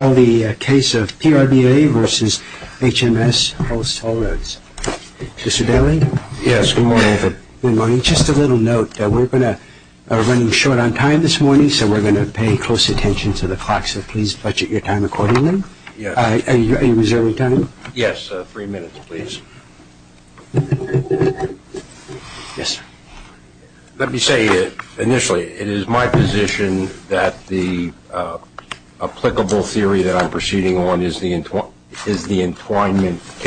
Hallroads. Mr. Daly? Yes, good morning. Good morning. Just a little note. We're going to run short on time this morning, so we're going to pay close attention to the clock, so please budget your time accordingly. Are you reserving time? Yes, three minutes, please. Yes, sir. Let me say initially, it is my position that the applicable theory that we're going to look at today is the one that we're going to look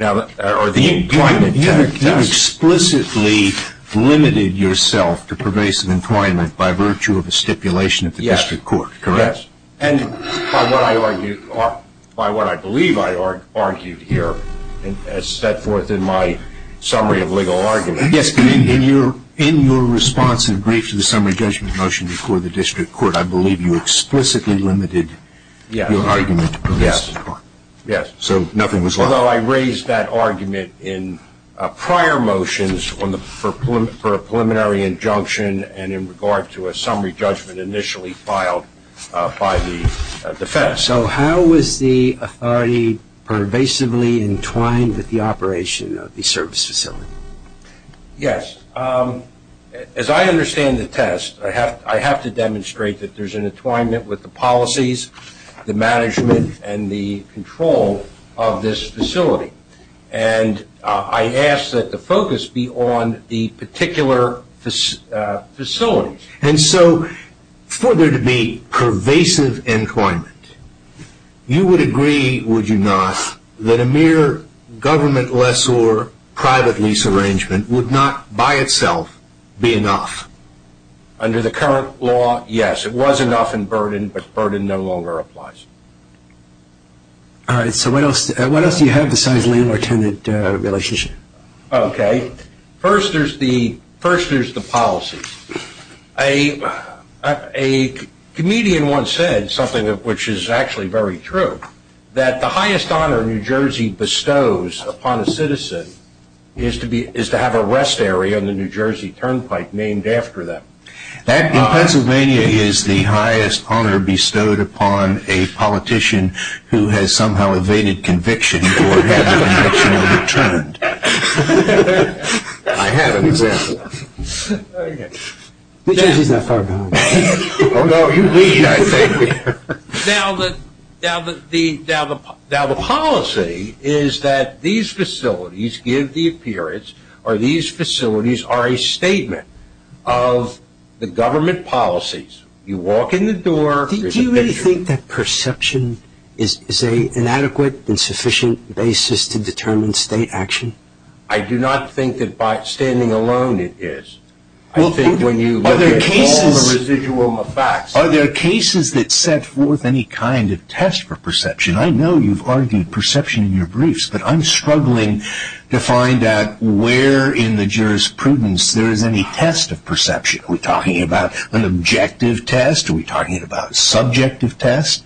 at today. We're going to look at the theory that I'm proceeding on is the entwinement case. You have explicitly limited yourself to pervasive entwinement by virtue of a stipulation at the district court, correct? Yes, and by what I believe I argued here as set forth in my summary of legal argument. Yes, but in your response and brief to the summary judgment motion before the district court, I believe you explicitly limited your argument to pervasive entwinement. Yes, so nothing was lost. Although I raised that argument in prior motions for a preliminary injunction and in regard to a summary judgment initially filed by the defense. Yes, so how was the authority pervasively entwined with the operation of the service facility? Yes, as I understand the test, I have to demonstrate that there's an entwinement with the policies, the management, and the control of this facility. I ask that the focus be on the particular facility. And so for there to be pervasive entwinement, you would agree, would you not, that a mere government lessor private lease arrangement would not by itself be enough? Under the current law, yes. It was enough in Burden, but Burden no longer applies. All right, so what else do you have besides landlord-tenant relationship? Okay, first there's the policy. A comedian once said something which is actually very true, that the highest honor New Jersey bestows upon a citizen is to have a rest area on the New Jersey turnpike named after them. That, in Pennsylvania, is the highest honor bestowed upon a politician who has somehow evaded conviction or had a conviction overturned. I have an example. New Jersey's not far behind. Oh, no, you lead, I think. Now the policy is that these facilities give the appearance or these facilities are a statement of the government policies. You walk in the door, there's a picture. Do you really think that perception is an adequate and sufficient basis to determine state action? I do not think that by standing alone it is. Are there cases that set forth any kind of test for perception? I know you've argued perception in your briefs, but I'm struggling to find out where in the jurisprudence there is any test of perception. Are we talking about an objective test? Are we talking about a subjective test?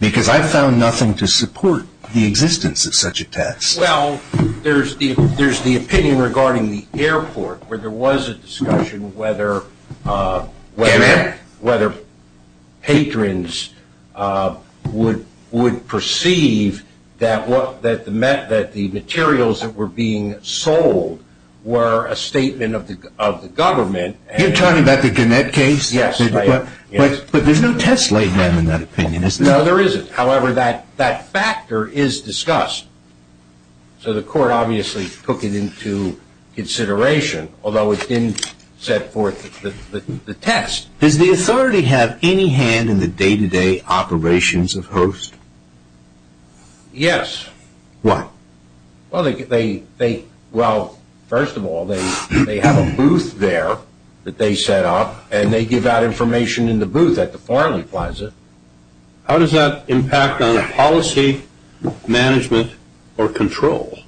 Because I've found nothing to support the existence of such a test. Well, there's the opinion regarding the airport where there was a discussion whether patrons would perceive that the materials that were being sold were a statement of the government. You're talking about the Gannett case? Yes. But there's no test laid down in that opinion, is there? No, there isn't. However, that factor is discussed, so the court obviously took it into consideration, although it didn't set forth the test. Does the authority have any hand in the day-to-day operations of HOST? Yes. Why? Well, first of all, they have a booth there that they set up, and they give out information in the booth at the Farley Plaza. How does that impact on policy, management, or control?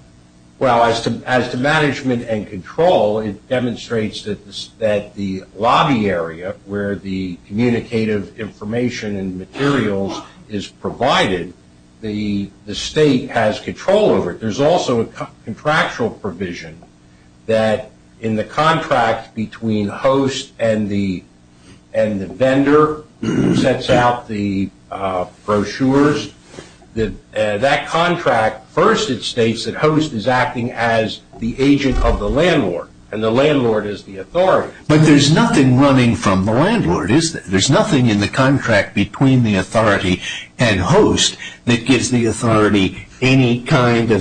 Well, as to management and control, it demonstrates that the lobby area where the communicative information and materials is provided, the state has control over it. There's also a contractual provision that in the contract between HOST and the vendor sets out the brochures. That contract, first it states that HOST is acting as the agent of the landlord, and the landlord is the authority. There's no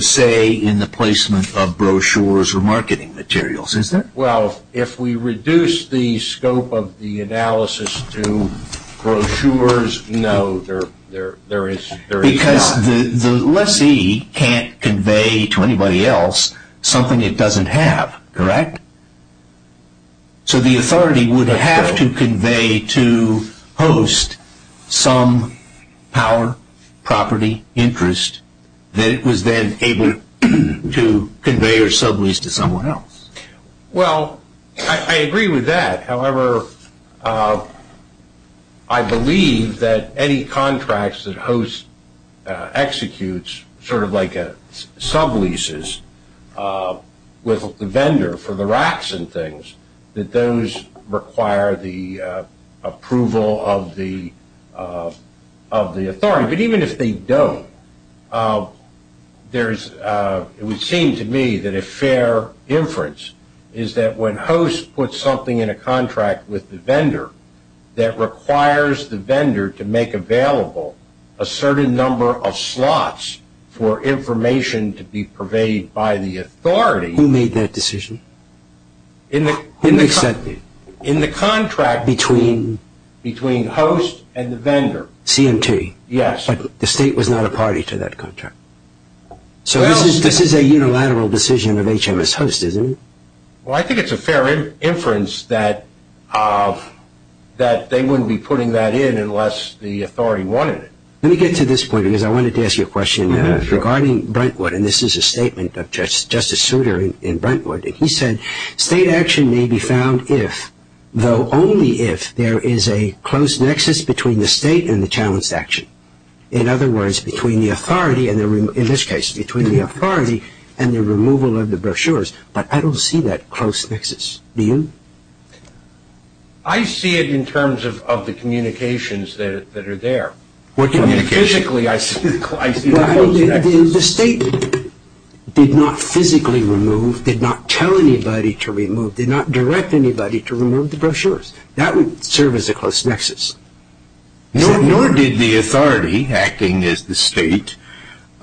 say in the placement of brochures or marketing materials, is there? Well, if we reduce the scope of the analysis to brochures, no, there is not. Because the lessee can't convey to anybody else something it doesn't have, correct? So the authority would have to convey to HOST some power, property, interest that it was then able to convey or sublease to someone else. Well, I agree with that. However, I believe that any contracts that HOST executes sort of like subleases with the vendor for the racks and things, that those require the approval of the authority. Yeah, but even if they don't, it would seem to me that a fair inference is that when HOST puts something in a contract with the vendor, that requires the vendor to make available a certain number of slots for information to be purveyed by the authority. Who made that decision? In the contract between HOST and the vendor. CMT. Yes. But the state was not a party to that contract. So this is a unilateral decision of HMS HOST, isn't it? Well, I think it's a fair inference that they wouldn't be putting that in unless the authority wanted it. Let me get to this point because I wanted to ask you a question regarding Brentwood. And this is a statement of Justice Souter in Brentwood. He said state action may be found if, though only if, there is a close nexus between the state and the challenged action. In other words, between the authority, in this case, between the authority and the removal of the brochures. But I don't see that close nexus. Do you? I see it in terms of the communications that are there. Physically, I see the close nexus. The state did not physically remove, did not tell anybody to remove, did not direct anybody to remove the brochures. That would serve as a close nexus. Nor did the authority acting as the state,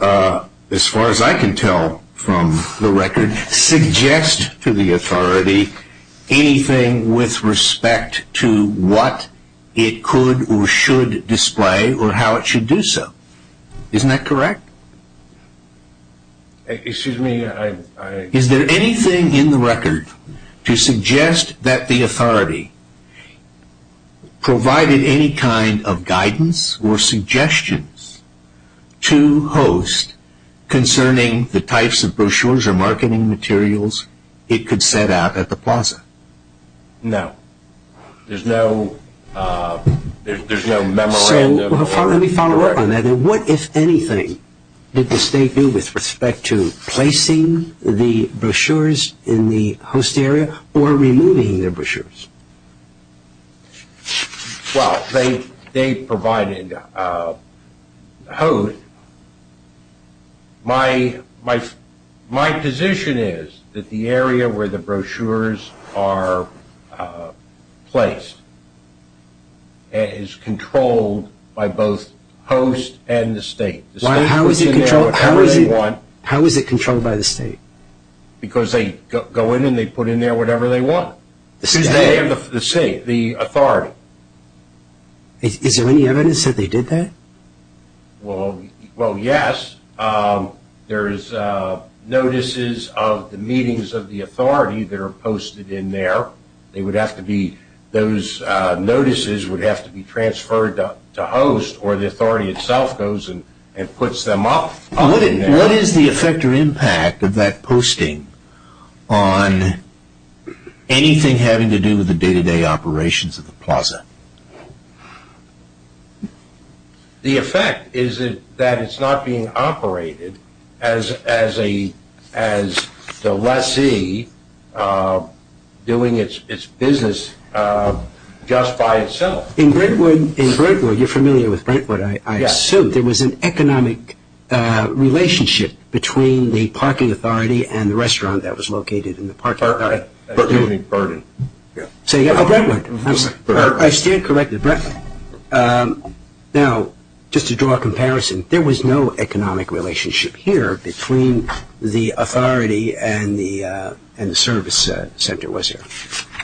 as far as I can tell from the record, suggest to the authority anything with respect to what it could or should display or how it should do so. Isn't that correct? Excuse me. Is there anything in the record to suggest that the authority provided any kind of guidance or suggestions to host concerning the types of brochures or marketing materials it could set out at the plaza? No. There's no memorandum. Let me follow up on that. What, if anything, did the state do with respect to placing the brochures in the host area or removing the brochures? Well, they provided a host. My position is that the area where the brochures are placed is controlled by both host and the state. How is it controlled by the state? Because they go in and they put in there whatever they want. The state? The state, the authority. Is there any evidence that they did that? Well, yes. There is notices of the meetings of the authority that are posted in there. They would have to be, those notices would have to be transferred to host or the authority itself goes and puts them up. What is the effect or impact of that posting on anything having to do with the day-to-day operations of the plaza? The effect is that it's not being operated as the lessee doing its business just by itself. In Brentwood, you're familiar with Brentwood, I assume. Yes. There was an economic relationship between the parking authority and the restaurant that was located in the parking area. Burden. Say again? Brentwood. I stand corrected. Now, just to draw a comparison, there was no economic relationship here between the authority and the service center, was there?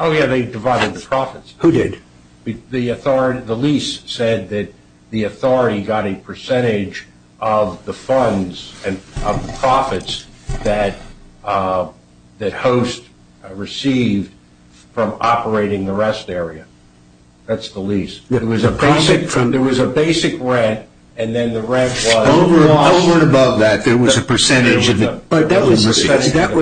Oh, yes. They divided the profits. Who did? The lease said that the authority got a percentage of the funds and profits that host received from operating the rest area. That's the lease. There was a basic rent and then the rent was lost. Over and above that, there was a percentage of the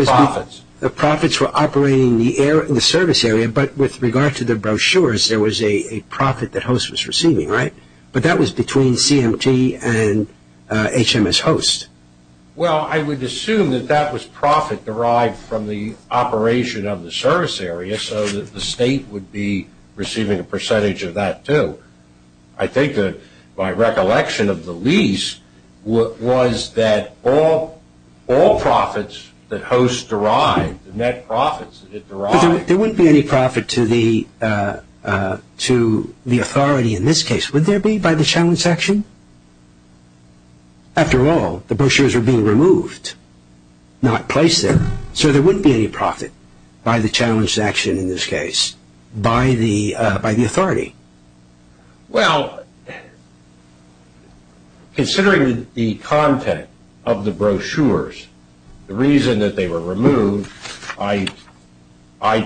profits. The profits were operating the service area, but with regard to the brochures, there was a profit that host was receiving, right? But that was between CMT and HMS Host. Well, I would assume that that was profit derived from the operation of the service area so that the state would be receiving a percentage of that, too. I think that my recollection of the lease was that all profits that host derived, net profits that it derived. But there wouldn't be any profit to the authority in this case, would there be, by the challenge section? After all, the brochures are being removed, not placed there. So there wouldn't be any profit by the challenge section in this case, by the authority? Well, considering the content of the brochures, the reason that they were removed, I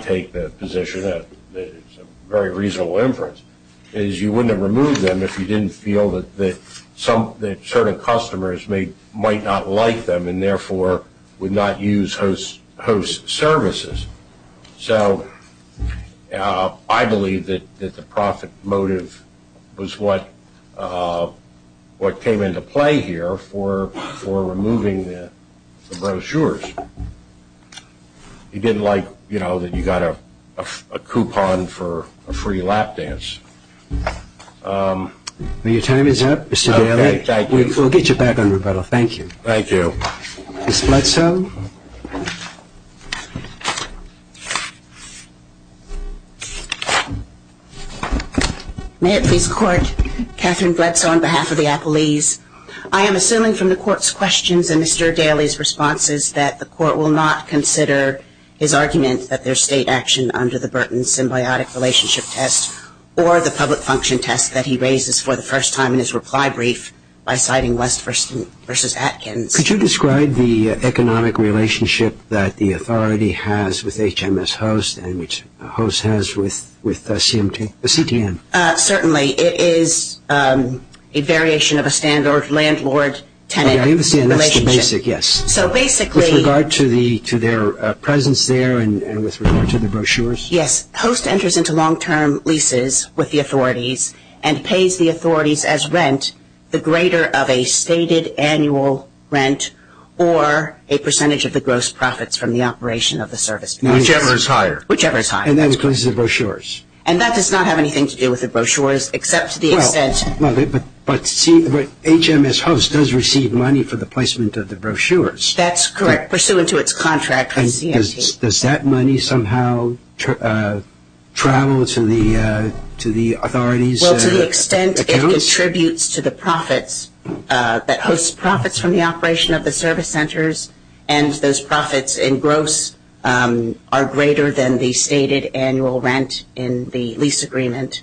take the position that it's a very reasonable inference, is you wouldn't have removed them if you didn't feel that certain customers might not like them and therefore would not use host services. So I believe that the profit motive was what came into play here for removing the brochures. You didn't like, you know, that you got a coupon for a free lap dance. Your time is up, Mr. Daley. Okay, thank you. We'll get you back on, Roberto. Thank you. Thank you. Ms. Bledsoe. May it please the Court, Catherine Bledsoe on behalf of the Apple Lease. I am assuming from the Court's questions and Mr. Daley's responses that the Court will not consider his argument that there's state action under the Burton symbiotic relationship test or the public function test that he raises for the first time in his reply brief by citing West v. Atkins. Could you describe the economic relationship that the authority has with HMS Host and which Host has with CTM? Certainly. It is a variation of a standard landlord-tenant relationship. I understand that's the basic, yes. With regard to their presence there and with regard to the brochures? Yes. Host enters into long-term leases with the authorities and pays the authorities as rent the greater of a stated annual rent or a percentage of the gross profits from the operation of the service. Whichever is higher. Whichever is higher. And that includes the brochures. And that does not have anything to do with the brochures except to the extent. But HMS Host does receive money for the placement of the brochures. That's correct, pursuant to its contract with CMT. Does that money somehow travel to the authorities' accounts? Well, to the extent it contributes to the profits that Host profits from the operation of the service centers and those profits in gross are greater than the stated annual rent in the lease agreement.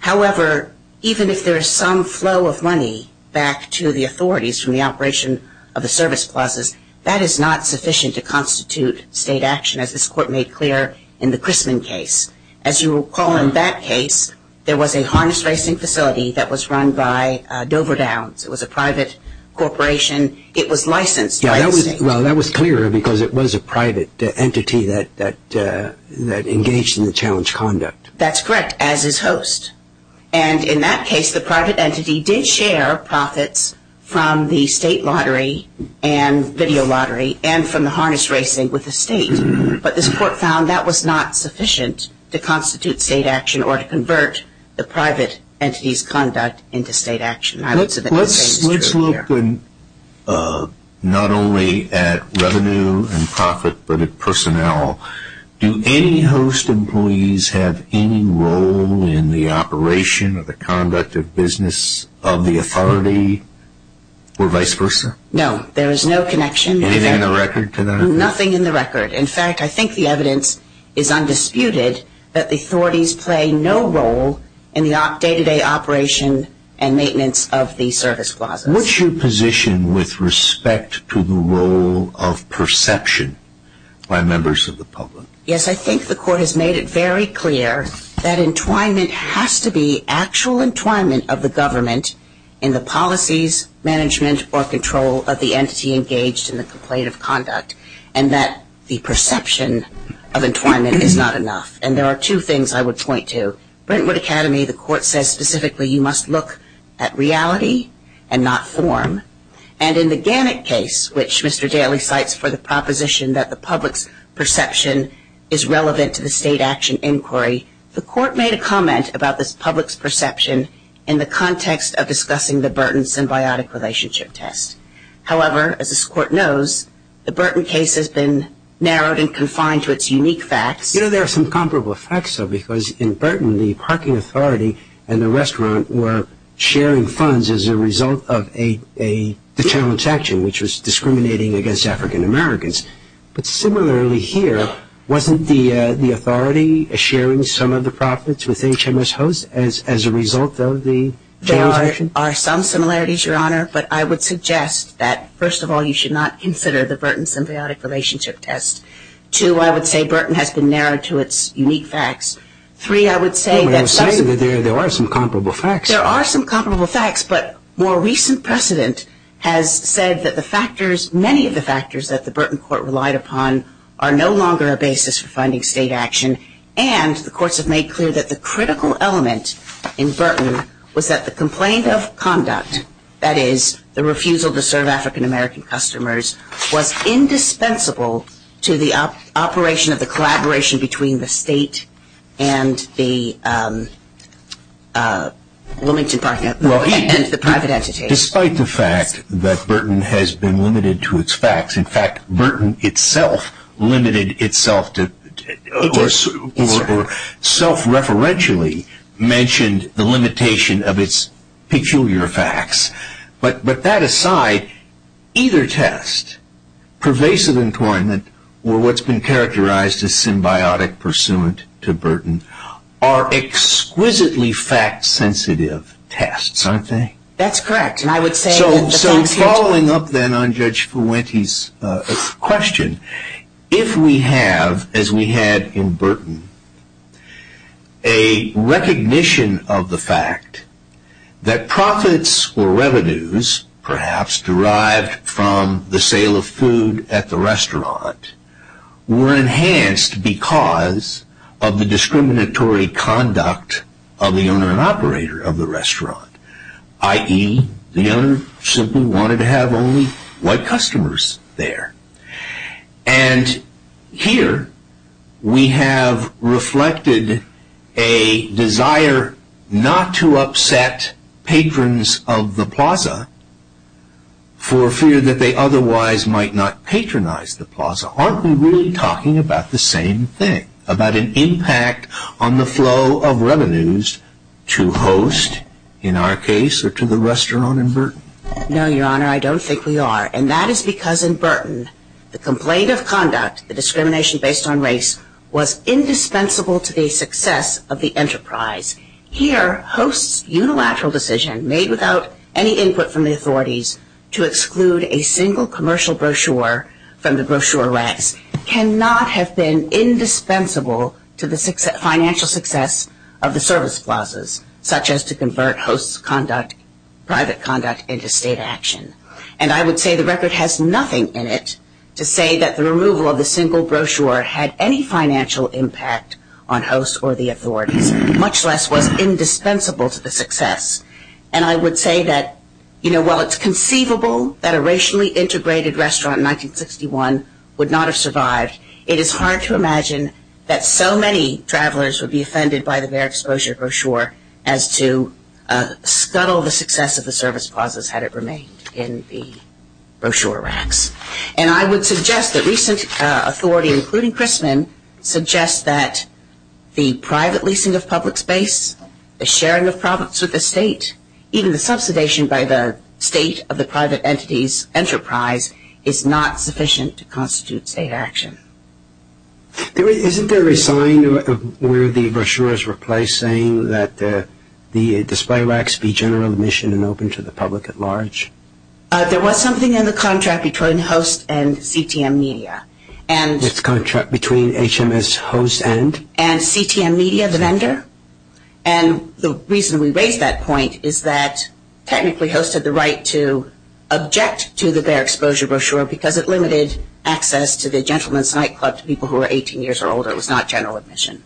However, even if there is some flow of money back to the authorities from the operation of the service clauses, that is not sufficient to constitute state action, as this Court made clear in the Crisman case. As you recall in that case, there was a harness racing facility that was run by Dover Downs. It was a private corporation. It was licensed by the state. Well, that was clearer because it was a private entity that engaged in the challenge conduct. That's correct, as is Host. And in that case, the private entity did share profits from the state lottery and video lottery and from the harness racing with the state. But this Court found that was not sufficient to constitute state action or to convert the private entity's conduct into state action. Let's look not only at revenue and profit but at personnel. Do any Host employees have any role in the operation or the conduct of business of the authority or vice versa? No, there is no connection. Anything in the record to that? Nothing in the record. In fact, I think the evidence is undisputed that the authorities play no role in the day-to-day operation and maintenance of the service clauses. What's your position with respect to the role of perception by members of the public? Yes, I think the Court has made it very clear that entwinement has to be actual entwinement of the government in the policies, management, or control of the entity engaged in the complaint of conduct and that the perception of entwinement is not enough. And there are two things I would point to. Brentwood Academy, the Court says specifically you must look at reality and not form. And in the Gannett case, which Mr. Daly cites for the proposition that the public's perception is relevant to the state action inquiry, the Court made a comment about this public's perception in the context of discussing the Burton symbiotic relationship test. However, as this Court knows, the Burton case has been narrowed and confined to its unique facts. You know, there are some comparable facts, though, because in Burton, the parking authority and the restaurant were sharing funds as a result of a determined action, which was discriminating against African Americans. But similarly here, wasn't the authority sharing some of the profits with HMS Host as a result of the challenge action? There are some similarities, Your Honor, but I would suggest that, first of all, you should not consider the Burton symbiotic relationship test. Two, I would say Burton has been narrowed to its unique facts. Three, I would say that there are some comparable facts. There are some comparable facts, but more recent precedent has said that the factors, many of the factors that the Burton court relied upon are no longer a basis for finding state action. And the courts have made clear that the critical element in Burton was that the complaint of conduct, that is, the refusal to serve African American customers, was indispensable to the operation of the collaboration between the state and the private entity. Despite the fact that Burton has been limited to its facts, in fact, Burton itself limited itself to, or self-referentially mentioned the limitation of its peculiar facts. But that aside, either test, pervasive employment, or what's been characterized as symbiotic pursuant to Burton, are exquisitely fact-sensitive tests, aren't they? That's correct. So following up then on Judge Fuente's question, if we have, as we had in Burton, a recognition of the fact that profits or revenues, perhaps derived from the sale of food at the restaurant, were enhanced because of the discriminatory conduct of the owner and operator of the restaurant, i.e., the owner simply wanted to have only white customers there. And here we have reflected a desire not to upset patrons of the plaza for fear that they otherwise might not patronize the plaza. Aren't we really talking about the same thing? About an impact on the flow of revenues to host, in our case, or to the restaurant in Burton? No, Your Honor, I don't think we are. And that is because in Burton, the complaint of conduct, the discrimination based on race, was indispensable to the success of the enterprise. Here, hosts' unilateral decision, made without any input from the authorities, to exclude a single commercial brochure from the brochure ranks, cannot have been indispensable to the financial success of the service plazas, such as to convert host's conduct, private conduct, into state action. And I would say the record has nothing in it to say that the removal of the single brochure had any financial impact on hosts or the authorities, much less was indispensable to the success. And I would say that, you know, while it's conceivable that a racially integrated restaurant in 1961 would not have survived, it is hard to imagine that so many travelers would be offended by the bare exposure brochure as to scuttle the success of the service plazas had it remained in the brochure ranks. And I would suggest that recent authority, including Christman, suggests that the private leasing of public space, the sharing of profits with the state, even the subsidization by the state of the private entity's enterprise, is not sufficient to constitute state action. Isn't there a sign where the brochure is replaced saying that the display racks be general admission and open to the public at large? There was something in the contract between host and CTM Media. This contract between HMS host and? And CTM Media, the vendor. And the reason we raise that point is that technically host had the right to object to the bare exposure brochure because it limited access to the Gentleman's Nightclub to people who were 18 years or older. It was not general admission.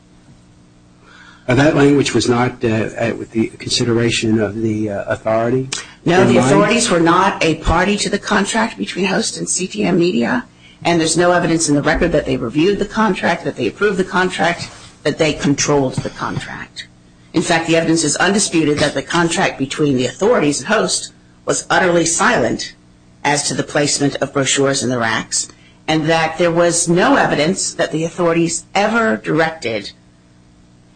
And that language was not with the consideration of the authority? No, the authorities were not a party to the contract between host and CTM Media. And there's no evidence in the record that they reviewed the contract, that they approved the contract, that they controlled the contract. In fact, the evidence is undisputed that the contract between the authorities and host was utterly silent as to the placement of brochures in the racks and that there was no evidence that the authorities ever directed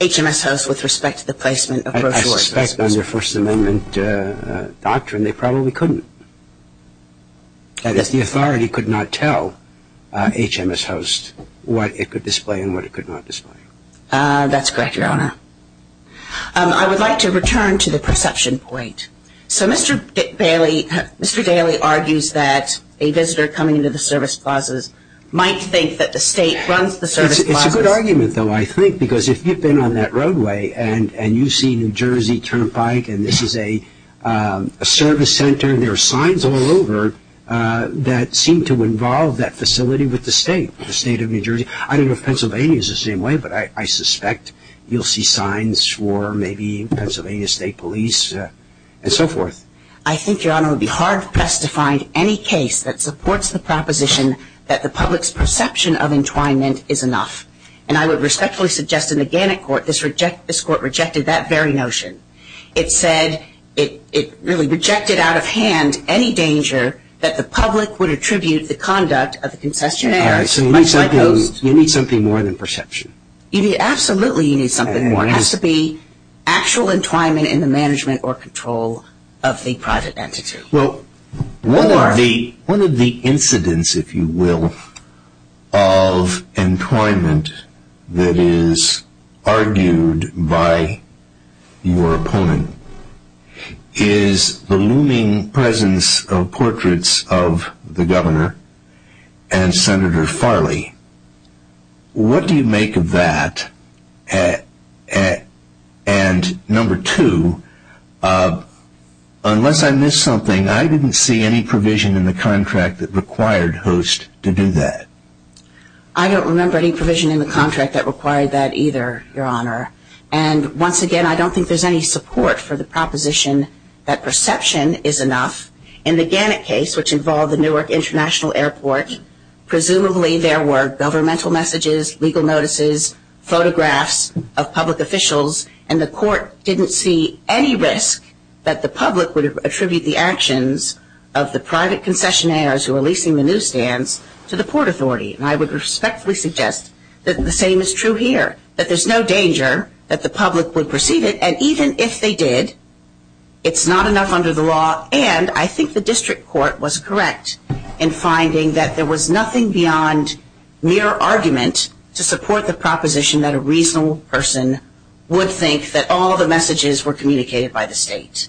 HMS host with respect to the placement of brochures. I suspect under First Amendment doctrine they probably couldn't. That is, the authority could not tell HMS host what it could display and what it could not display. That's correct, Your Honor. I would like to return to the perception point. So Mr. Daley argues that a visitor coming into the service plazas might think that the state runs the service plazas. It's a good argument, though, I think, because if you've been on that roadway and you see New Jersey Turnpike and this is a service center, there are signs all over that seem to involve that facility with the state, the state of New Jersey. I don't know if Pennsylvania is the same way, but I suspect you'll see signs for maybe Pennsylvania State Police and so forth. I think, Your Honor, it would be hard for us to find any case that supports the proposition that the public's perception of entwinement is enough. And I would respectfully suggest in the Gannett Court this Court rejected that very notion. It said it really rejected out of hand any danger that the public would attribute the conduct of the concessionary. All right, so you need something more than perception. Absolutely you need something more. It has to be actual entwinement in the management or control of the private entity. Well, one of the incidents, if you will, of entwinement that is argued by your opponent is the looming presence of portraits of the governor and Senator Farley. What do you make of that? And number two, unless I missed something, I didn't see any provision in the contract that required Host to do that. I don't remember any provision in the contract that required that either, Your Honor. And once again, I don't think there's any support for the proposition that perception is enough. In the Gannett case, which involved the Newark International Airport, presumably there were governmental messages, legal notices, photographs of public officials, and the Court didn't see any risk that the public would attribute the actions of the private concessionaires who were leasing the newsstands to the Port Authority. And I would respectfully suggest that the same is true here, that there's no danger that the public would perceive it. And even if they did, it's not enough under the law. And I think the district court was correct in finding that there was nothing beyond mere argument to support the proposition that a reasonable person would think that all the messages were communicated by the state.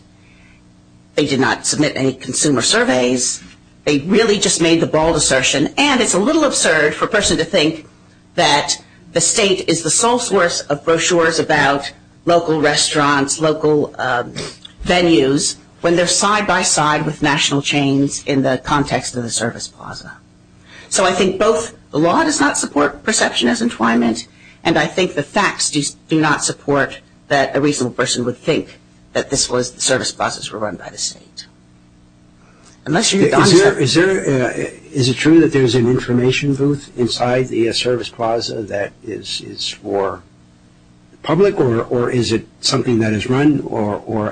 They did not submit any consumer surveys. They really just made the bald assertion. And it's a little absurd for a person to think that the state is the sole source of brochures about local restaurants, local venues, when they're side-by-side with national chains in the context of the service plaza. So I think both the law does not support perception as entwinement, and I think the facts do not support that a reasonable person would think that this was the service plazas were run by the state. Is it true that there's an information booth inside the service plaza that is for the public, or is it something that is run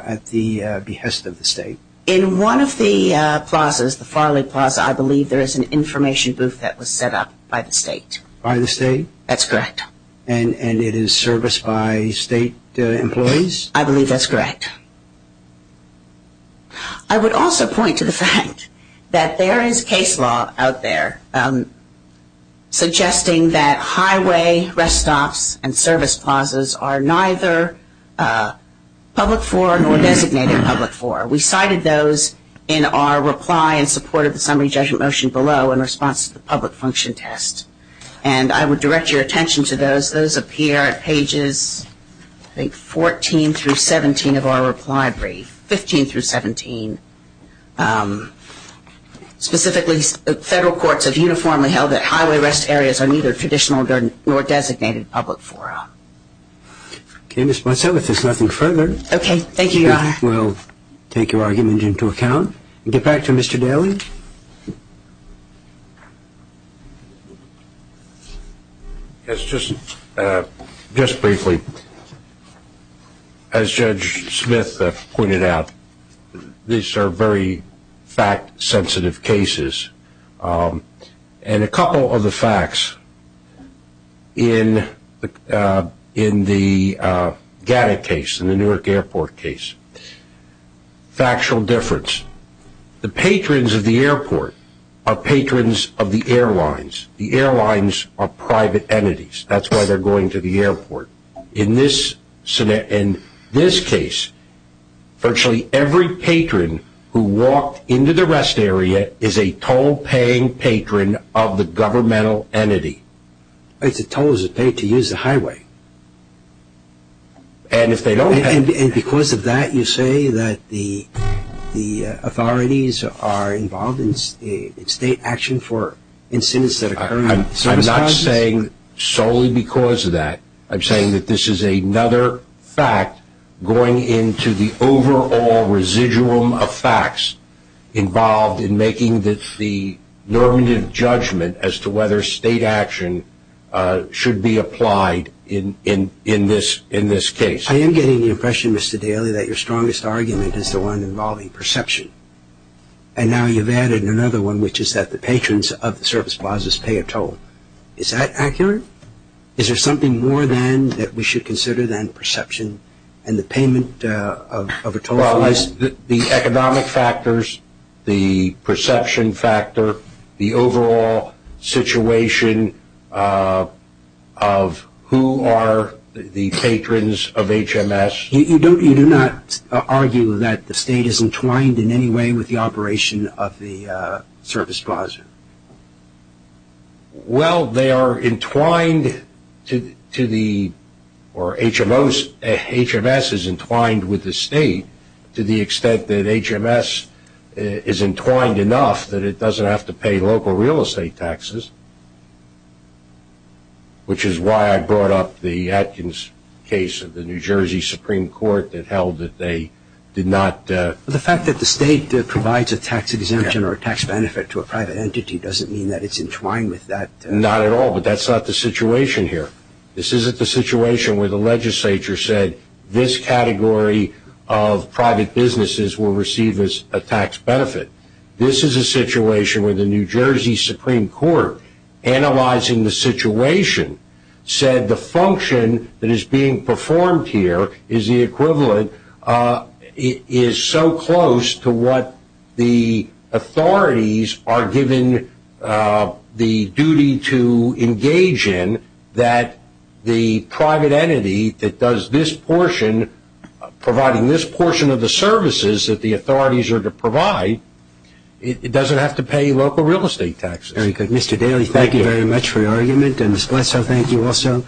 at the behest of the state? In one of the plazas, the Farley Plaza, I believe there is an information booth that was set up by the state. By the state? That's correct. And it is serviced by state employees? I believe that's correct. I would also point to the fact that there is case law out there suggesting that highway rest stops and service plazas are neither public for nor designated public for. We cited those in our reply in support of the summary judgment motion below in response to the public function test. And I would direct your attention to those. Those appear at pages, I think, 14 through 17 of our reply brief, 15 through 17. Specifically, federal courts have uniformly held that highway rest areas are neither traditional nor designated public for or. Okay, Ms. Bonsell, if there's nothing further. Okay, thank you, Your Honor. We'll take your argument into account and get back to Mr. Daly. Mr. Daly? Yes, just briefly. As Judge Smith pointed out, these are very fact-sensitive cases. And a couple of the facts in the GATTA case, in the Newark Airport case, factual difference. The patrons of the airport are patrons of the airlines. The airlines are private entities. That's why they're going to the airport. In this case, virtually every patron who walked into the rest area is a toll-paying patron of the governmental entity. It's a toll as it paid to use the highway. And because of that, you say that the authorities are involved in state action for incidents that occur? I'm not saying solely because of that. I'm saying that this is another fact going into the overall residuum of facts involved in making the normative judgment as to whether state action should be applied in this case. I am getting the impression, Mr. Daly, that your strongest argument is the one involving perception. And now you've added another one, which is that the patrons of the service plazas pay a toll. Is that accurate? Is there something more, then, that we should consider than perception and the payment of a toll? Well, the economic factors, the perception factor, the overall situation of who are the patrons of HMS. You do not argue that the state is entwined in any way with the operation of the service plaza? Well, they are entwined, or HMS is entwined with the state to the extent that HMS is entwined enough that it doesn't have to pay local real estate taxes, which is why I brought up the Atkins case of the New Jersey Supreme Court that held that they did not. The fact that the state provides a tax exemption or a tax benefit to a private entity doesn't mean that it's entwined with that. Not at all, but that's not the situation here. This isn't the situation where the legislature said this category of private businesses will receive a tax benefit. This is a situation where the New Jersey Supreme Court, analyzing the situation, said the function that is being performed here is the equivalent is so close to what the authorities are given the duty to engage in that the private entity that does this portion, providing this portion of the services that the authorities are to provide, it doesn't have to pay local real estate taxes. Very good. Mr. Daly, thank you very much for your argument, and Ms. Blesso, thank you also.